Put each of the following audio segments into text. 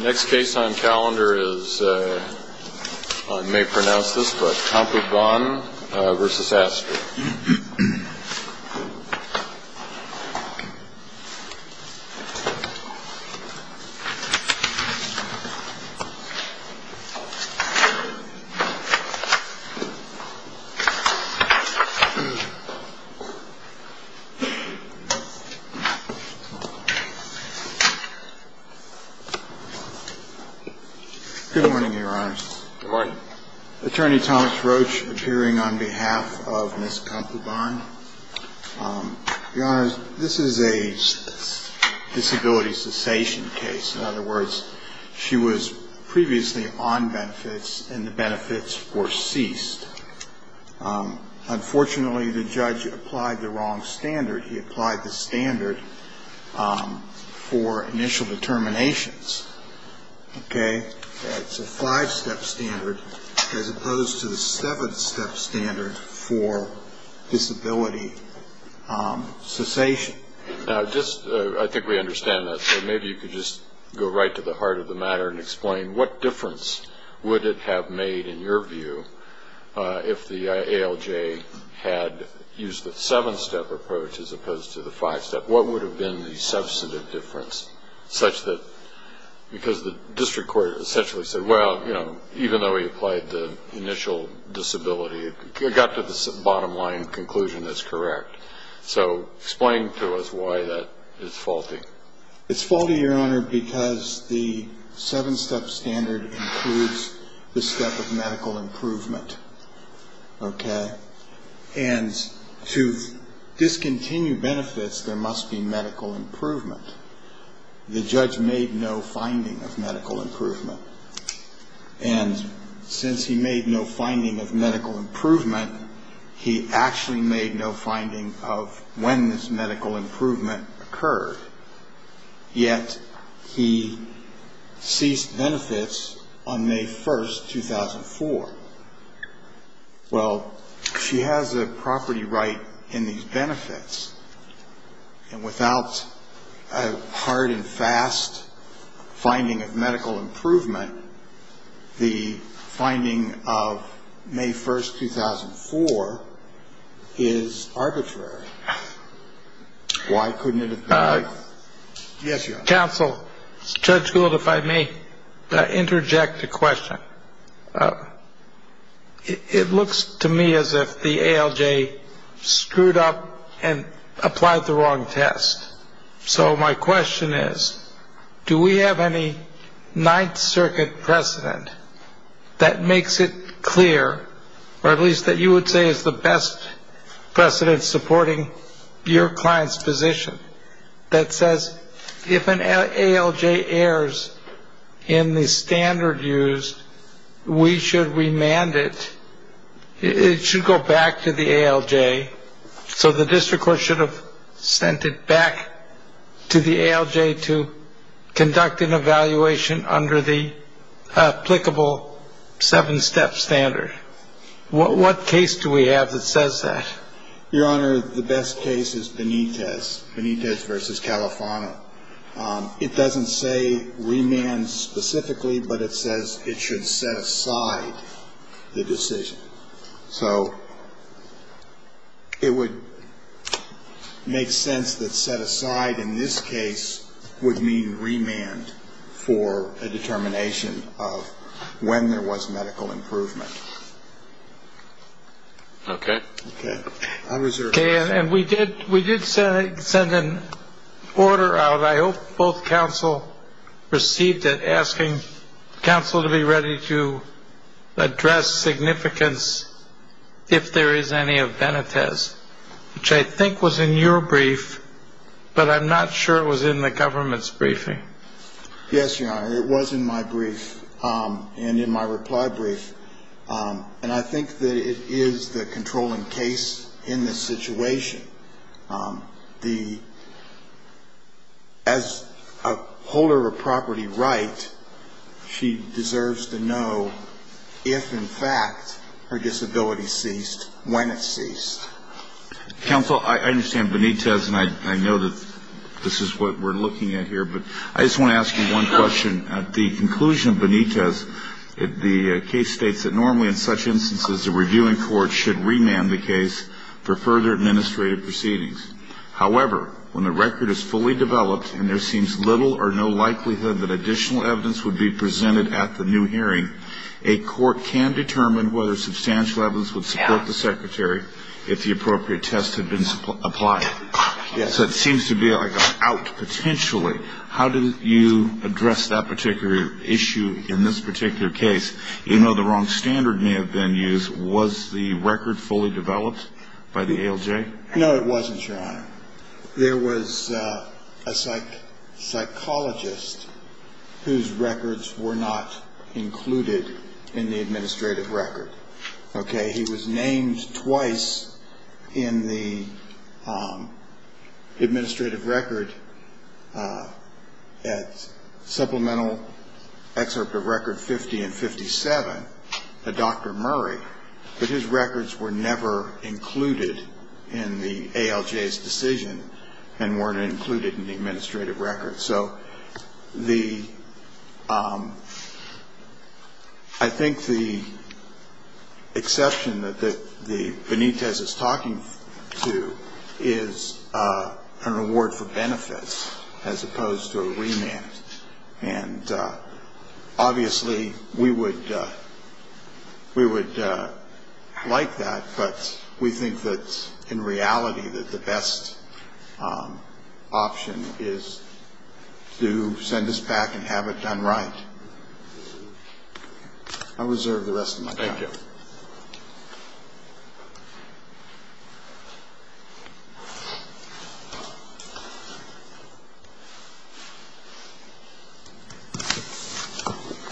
Next case on calendar is, I may pronounce this, but Khong Khampunbuan v. Astrue. Good morning, your honors. Good morning. Attorney Thomas Roach appearing on behalf of Ms. Khampunbuan. Your honors, this is a disability cessation case. In other words, she was previously on benefits and the benefits were ceased. Unfortunately, the judge applied the wrong standard. He applied the standard for initial determinations. Okay. That's a five-step standard as opposed to the seven-step standard for disability cessation. Now, just, I think we understand that, so maybe you could just go right to the heart of the matter and explain what difference would it have made, in your view, if the ALJ had used the seven-step approach as opposed to the five-step. What would have been the substantive difference, such that, because the district court essentially said, well, you know, even though he applied the initial disability, it got to the bottom line conclusion as correct. So explain to us why that is faulty. It's faulty, your honor, because the seven-step standard includes the step of medical improvement. Okay. And to discontinue benefits, there must be medical improvement. The judge made no finding of medical improvement. And since he made no finding of medical improvement, he actually made no finding of when this medical improvement occurred, yet he ceased benefits on May 1st, 2004. Well, she has a property right in these benefits, and without a hard and fast finding of medical improvement, the finding of May 1st, 2004 is arbitrary. Why couldn't it have been like that? Yes, your honor. Counsel, Judge Gould, if I may interject a question. It looks to me as if the ALJ screwed up and applied the wrong test. So my question is, do we have any Ninth Circuit precedent that makes it clear, or at least that you would say is the best precedent supporting your client's position, that says if an ALJ errors in the standard used, we should remand it. It should go back to the ALJ. So the district court should have sent it back to the ALJ to conduct an evaluation under the applicable seven-step standard. What case do we have that says that? Your honor, the best case is Benitez, Benitez v. Califano. It doesn't say remand specifically, but it says it should set aside the decision. So it would make sense that set aside in this case would mean remand for a determination of when there was medical improvement. Okay. Okay. Okay, and we did send an order out. But I hope both counsel received it asking counsel to be ready to address significance if there is any of Benitez, which I think was in your brief, but I'm not sure it was in the government's briefing. Yes, your honor, it was in my brief and in my reply brief. And I think that it is the controlling case in this situation. As a holder of property right, she deserves to know if in fact her disability ceased when it ceased. Counsel, I understand Benitez, and I know that this is what we're looking at here, but I just want to ask you one question. At the conclusion of Benitez, the case states that normally in such instances a reviewing court should remand the case for further administrative proceedings. However, when the record is fully developed and there seems little or no likelihood that additional evidence would be presented at the new hearing, a court can determine whether substantial evidence would support the secretary if the appropriate test had been applied. So it seems to be like an out potentially. How do you address that particular issue in this particular case? You know the wrong standard may have been used. Was the record fully developed by the ALJ? No, it wasn't, your honor. There was a psychologist whose records were not included in the administrative record. Okay. He was named twice in the administrative record at supplemental excerpt of record 50 and 57, a Dr. Murray, but his records were never included in the ALJ's decision and weren't included in the administrative record. So I think the exception that Benitez is talking to is an award for benefits as opposed to a remand. And obviously we would like that, but we think that in reality that the best option is to send this back and have it done right. I reserve the rest of my time. Thank you.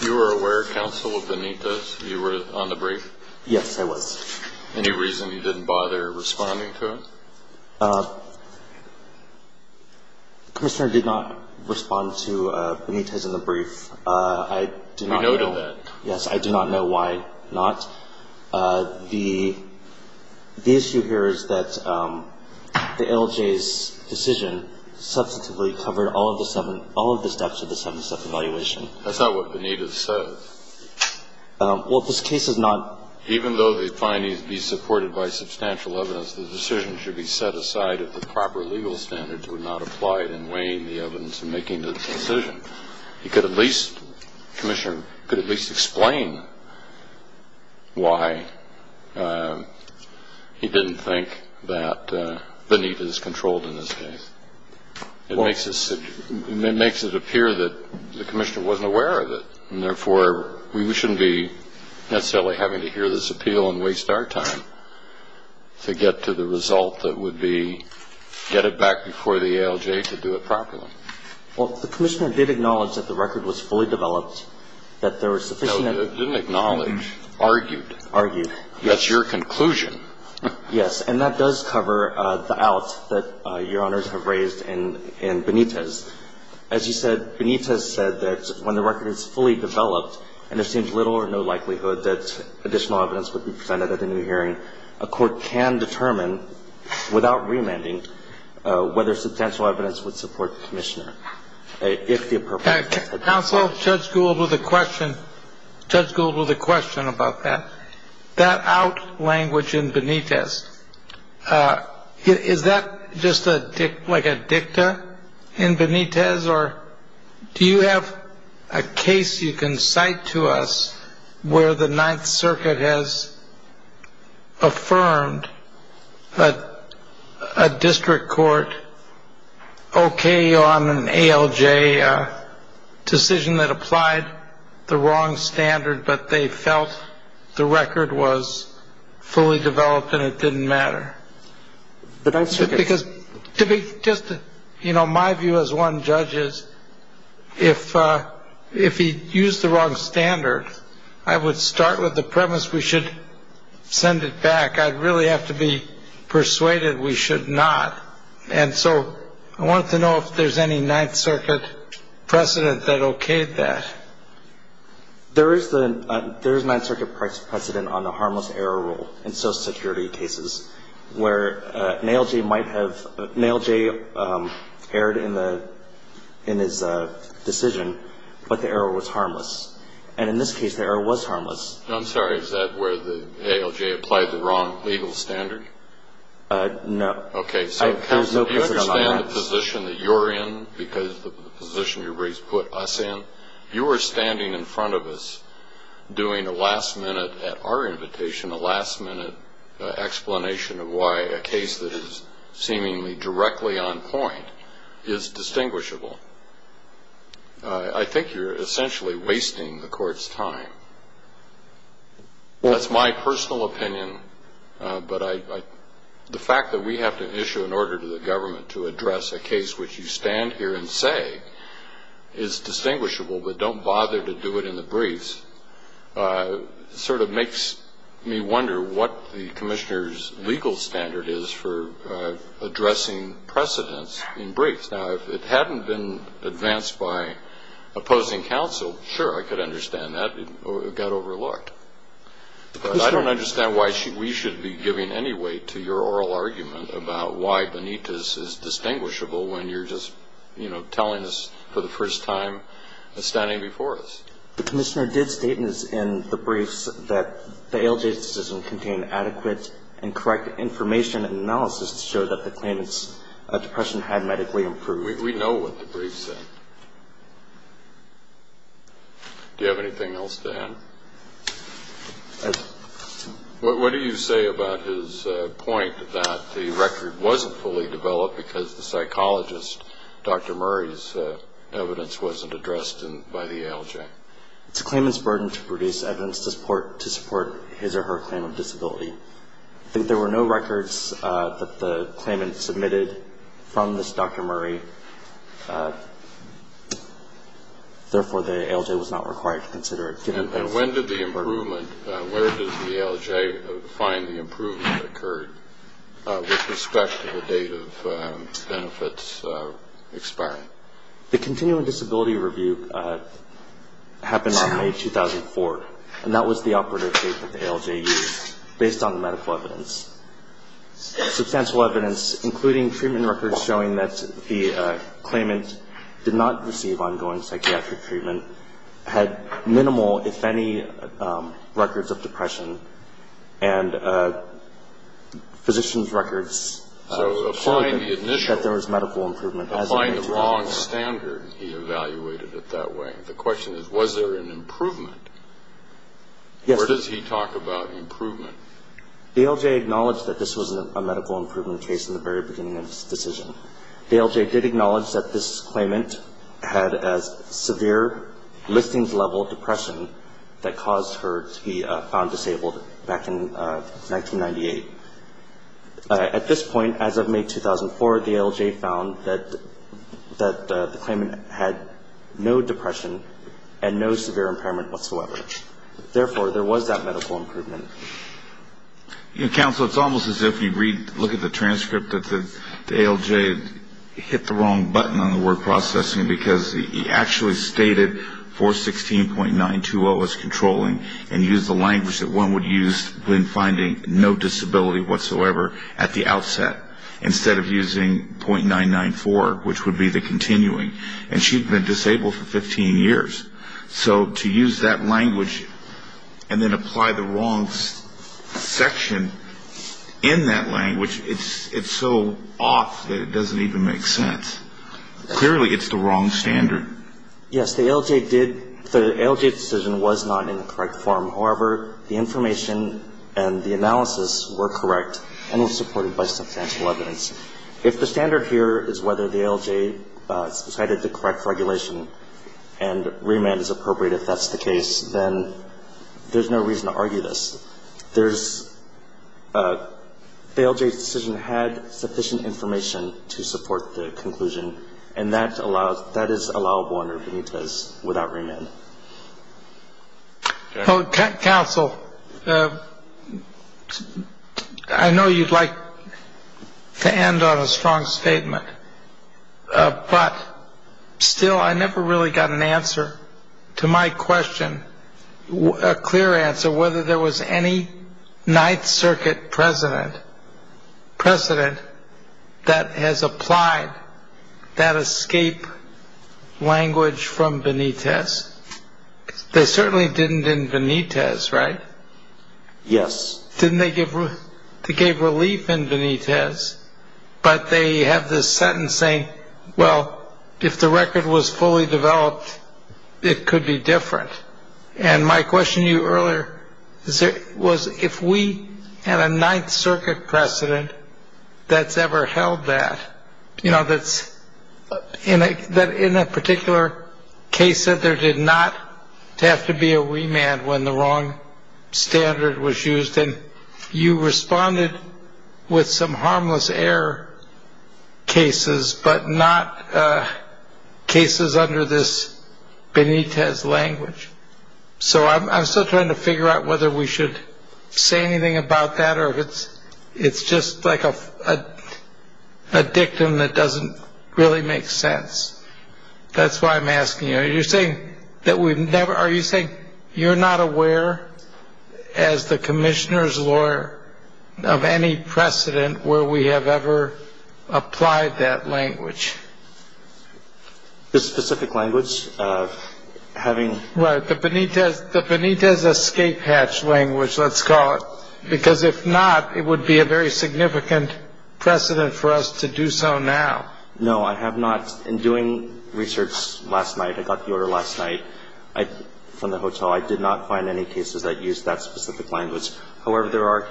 You were aware, counsel, of Benitez? You were on the brief? Yes, I was. Any reason you didn't bother responding to it? Commissioner did not respond to Benitez in the brief. We noted that. Yes. I do not know why not. The issue here is that the ALJ's decision substantively covered all of the steps of the 77th evaluation. That's not what Benitez said. Well, this case is not. Even though the findings be supported by substantial evidence, the decision should be set aside if the proper legal standards were not applied in weighing the evidence and making the decision. He could at least explain why he didn't think that Benitez controlled in this case. It makes it appear that the commissioner wasn't aware of it, and therefore we shouldn't be necessarily having to hear this appeal and waste our time to get to the result that would be get it back before the ALJ to do it properly. Well, the commissioner did acknowledge that the record was fully developed, that there was sufficient. No, didn't acknowledge. Argued. Argued. That's your conclusion. Yes. And that does cover the out that Your Honors have raised in Benitez. As you said, Benitez said that when the record is fully developed and there seems little or no likelihood that additional evidence would be presented at a new hearing, a court can determine, without remanding, whether substantial evidence would support the commissioner. If the appropriate. Counsel, Judge Gould with a question. Judge Gould with a question about that. That out language in Benitez, is that just like a dicta in Benitez, or do you have a case you can cite to us where the Ninth Circuit has affirmed a district court okay on an ALJ decision that applied the wrong standard, but they felt the record was fully developed and it didn't matter? Because to be just, you know, my view as one judge is if he used the wrong standard, I would start with the premise we should send it back. I'd really have to be persuaded we should not. And so I want to know if there's any Ninth Circuit precedent that okayed that. There is the Ninth Circuit precedent on the harmless error rule in Social Security cases where an ALJ might have, an ALJ erred in his decision, but the error was harmless. And in this case, the error was harmless. I'm sorry, is that where the ALJ applied the wrong legal standard? No. Okay. Counsel, do you understand the position that you're in because of the position you've put us in? You are standing in front of us doing a last-minute, at our invitation, a last-minute explanation of why a case that is seemingly directly on point is distinguishable. I think you're essentially wasting the court's time. That's my personal opinion, but the fact that we have to issue an order to the government to address a case which you stand here and say is distinguishable but don't bother to do it in the briefs sort of makes me wonder what the commissioner's legal standard is for addressing precedents in briefs. Now, if it hadn't been advanced by opposing counsel, sure, I could understand that. It got overlooked. But I don't understand why we should be giving any weight to your oral argument about why Benitez is distinguishable when you're just, you know, telling us for the first time and standing before us. The commissioner did state in the briefs that the ALJ's decision contained adequate and correct information and analysis to show that the claimant's depression had medically improved. We know what the brief said. Do you have anything else to add? What do you say about his point that the record wasn't fully developed because the psychologist, Dr. Murray's, evidence wasn't addressed by the ALJ? It's a claimant's burden to produce evidence to support his or her claim of disability. There were no records that the claimant submitted from this Dr. Murray. Therefore, the ALJ was not required to consider it. And when did the improvement, where does the ALJ find the improvement occurred with respect to the date of benefits expiring? The continuing disability review happened on May 2004, and that was the operative date that the ALJ used. Based on the medical evidence, substantial evidence, including treatment records showing that the claimant did not receive ongoing psychiatric treatment, had minimal, if any, records of depression, and physicians' records showed that there was medical improvement. Applying the wrong standard, he evaluated it that way. The question is, was there an improvement? Yes. What does he talk about improvement? The ALJ acknowledged that this was a medical improvement case in the very beginning of its decision. The ALJ did acknowledge that this claimant had a severe listings-level depression that caused her to be found disabled back in 1998. At this point, as of May 2004, the ALJ found that the claimant had no depression and no severe impairment whatsoever. Therefore, there was that medical improvement. Counsel, it's almost as if you look at the transcript that the ALJ hit the wrong button on the word processing, because he actually stated 416.920 as controlling, and used the language that one would use when finding no disability whatsoever at the outset, instead of using .994, which would be the continuing. And she'd been disabled for 15 years. So to use that language and then apply the wrong section in that language, it's so off that it doesn't even make sense. Clearly, it's the wrong standard. Yes. The ALJ did. The ALJ decision was not in the correct form. However, the information and the analysis were correct and were supported by substantial evidence. If the standard here is whether the ALJ decided to correct regulation and remand is appropriate, if that's the case, then there's no reason to argue this. The ALJ's decision had sufficient information to support the conclusion, and that is allowable under Benitez without remand. Counsel, I know you'd like to end on a strong statement. But still, I never really got an answer to my question, a clear answer, whether there was any Ninth Circuit precedent that has applied that escape language from Benitez. They certainly didn't in Benitez, right? Yes. They gave relief in Benitez, but they have this sentence saying, well, if the record was fully developed, it could be different. And my question to you earlier was if we had a Ninth Circuit precedent that's ever held that, you know, that's in a particular case that there did not have to be a remand when the wrong standard was used, then you responded with some harmless error cases, but not cases under this Benitez language. So I'm still trying to figure out whether we should say anything about that, or if it's just like a dictum that doesn't really make sense. That's why I'm asking you, are you saying that we've never, are you saying you're not aware as the commissioner's lawyer of any precedent where we have ever applied that language? This specific language, having. Right, the Benitez escape hatch language, let's call it. Because if not, it would be a very significant precedent for us to do so now. No, I have not. In doing research last night, I got the order last night from the hotel. I did not find any cases that used that specific language. However, there are,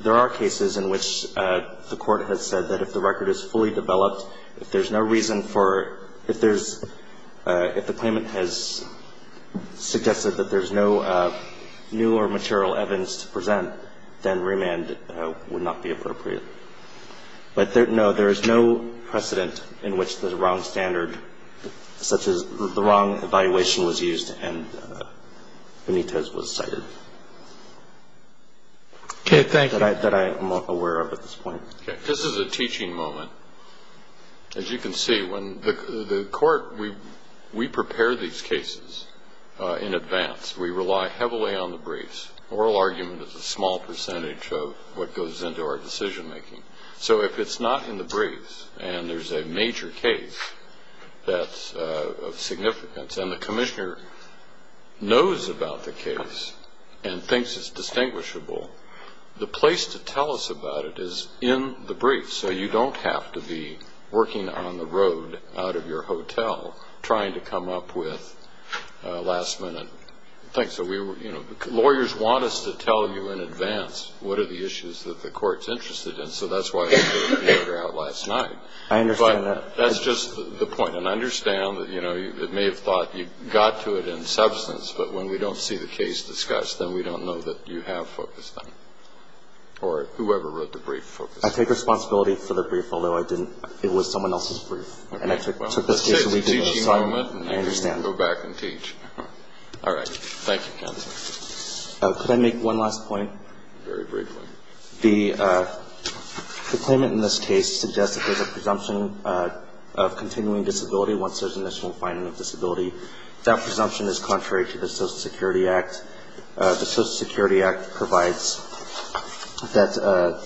there are cases in which the Court has said that if the record is fully developed, if there's no reason for, if there's, if the claimant has suggested that there's no new or material evidence to present, then remand would not be appropriate. But, no, there is no precedent in which the wrong standard, such as the wrong evaluation was used and Benitez was cited. Okay, thank you. That I am aware of at this point. Okay. This is a teaching moment. As you can see, when the Court, we prepare these cases in advance. We rely heavily on the briefs. Oral argument is a small percentage of what goes into our decision making. So if it's not in the briefs and there's a major case that's of significance and the commissioner knows about the case and thinks it's distinguishable, the place to tell us about it is in the briefs. So you don't have to be working on the road out of your hotel trying to come up with things that we were, you know, lawyers want us to tell you in advance. What are the issues that the Court's interested in? So that's why we took the order out last night. I understand that. But that's just the point. And I understand that, you know, it may have thought you got to it in substance, but when we don't see the case discussed, then we don't know that you have focused on it. Or whoever wrote the brief focused on it. I take responsibility for the brief, although I didn't, it was someone else's brief. And I took this case and we did this. Okay, well, this is a teaching moment. I understand. I'm going to go back and teach. All right. Thank you, counsel. Could I make one last point? Very briefly. The claimant in this case suggests that there's a presumption of continuing disability once there's initial finding of disability. That presumption is contrary to the Social Security Act. The Social Security Act provides that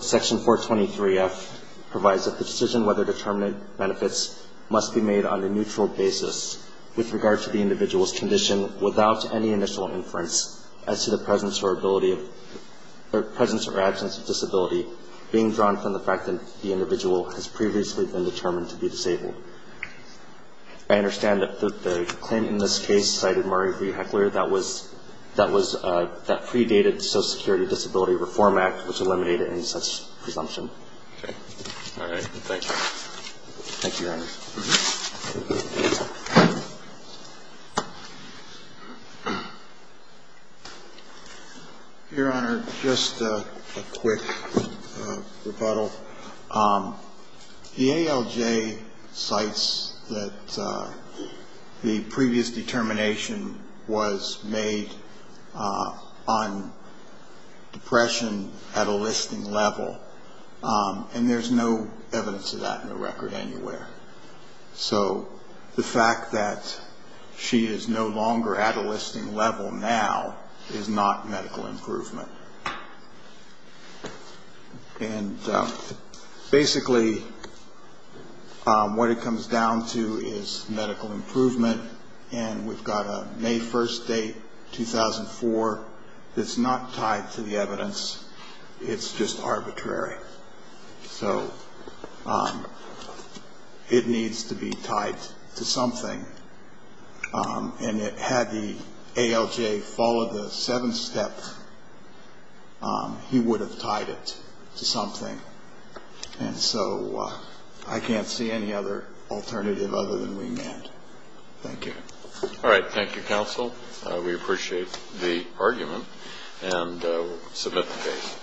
Section 423F provides that the decision whether or not to determine benefits must be made on a neutral basis with regard to the individual's condition without any initial inference as to the presence or absence of disability being drawn from the fact that the individual has previously been determined to be disabled. I understand that the claimant in this case cited Murray V. Heckler. That predated the Social Security Disability Reform Act, which eliminated any such presumption. Okay. All right. Thank you. Thank you, Your Honor. Your Honor, just a quick rebuttal. The ALJ cites that the previous determination was made on depression at a listing level, and there's no evidence of that in the record anywhere. So the fact that she is no longer at a listing level now is not medical improvement. And basically what it comes down to is medical improvement. And we've got a May 1st date, 2004, that's not tied to the evidence. It's just arbitrary. So it needs to be tied to something. And had the ALJ followed the seventh step, he would have tied it to something. And so I can't see any other alternative other than wing end. Thank you. All right. Thank you, counsel. We appreciate the argument and submit the case.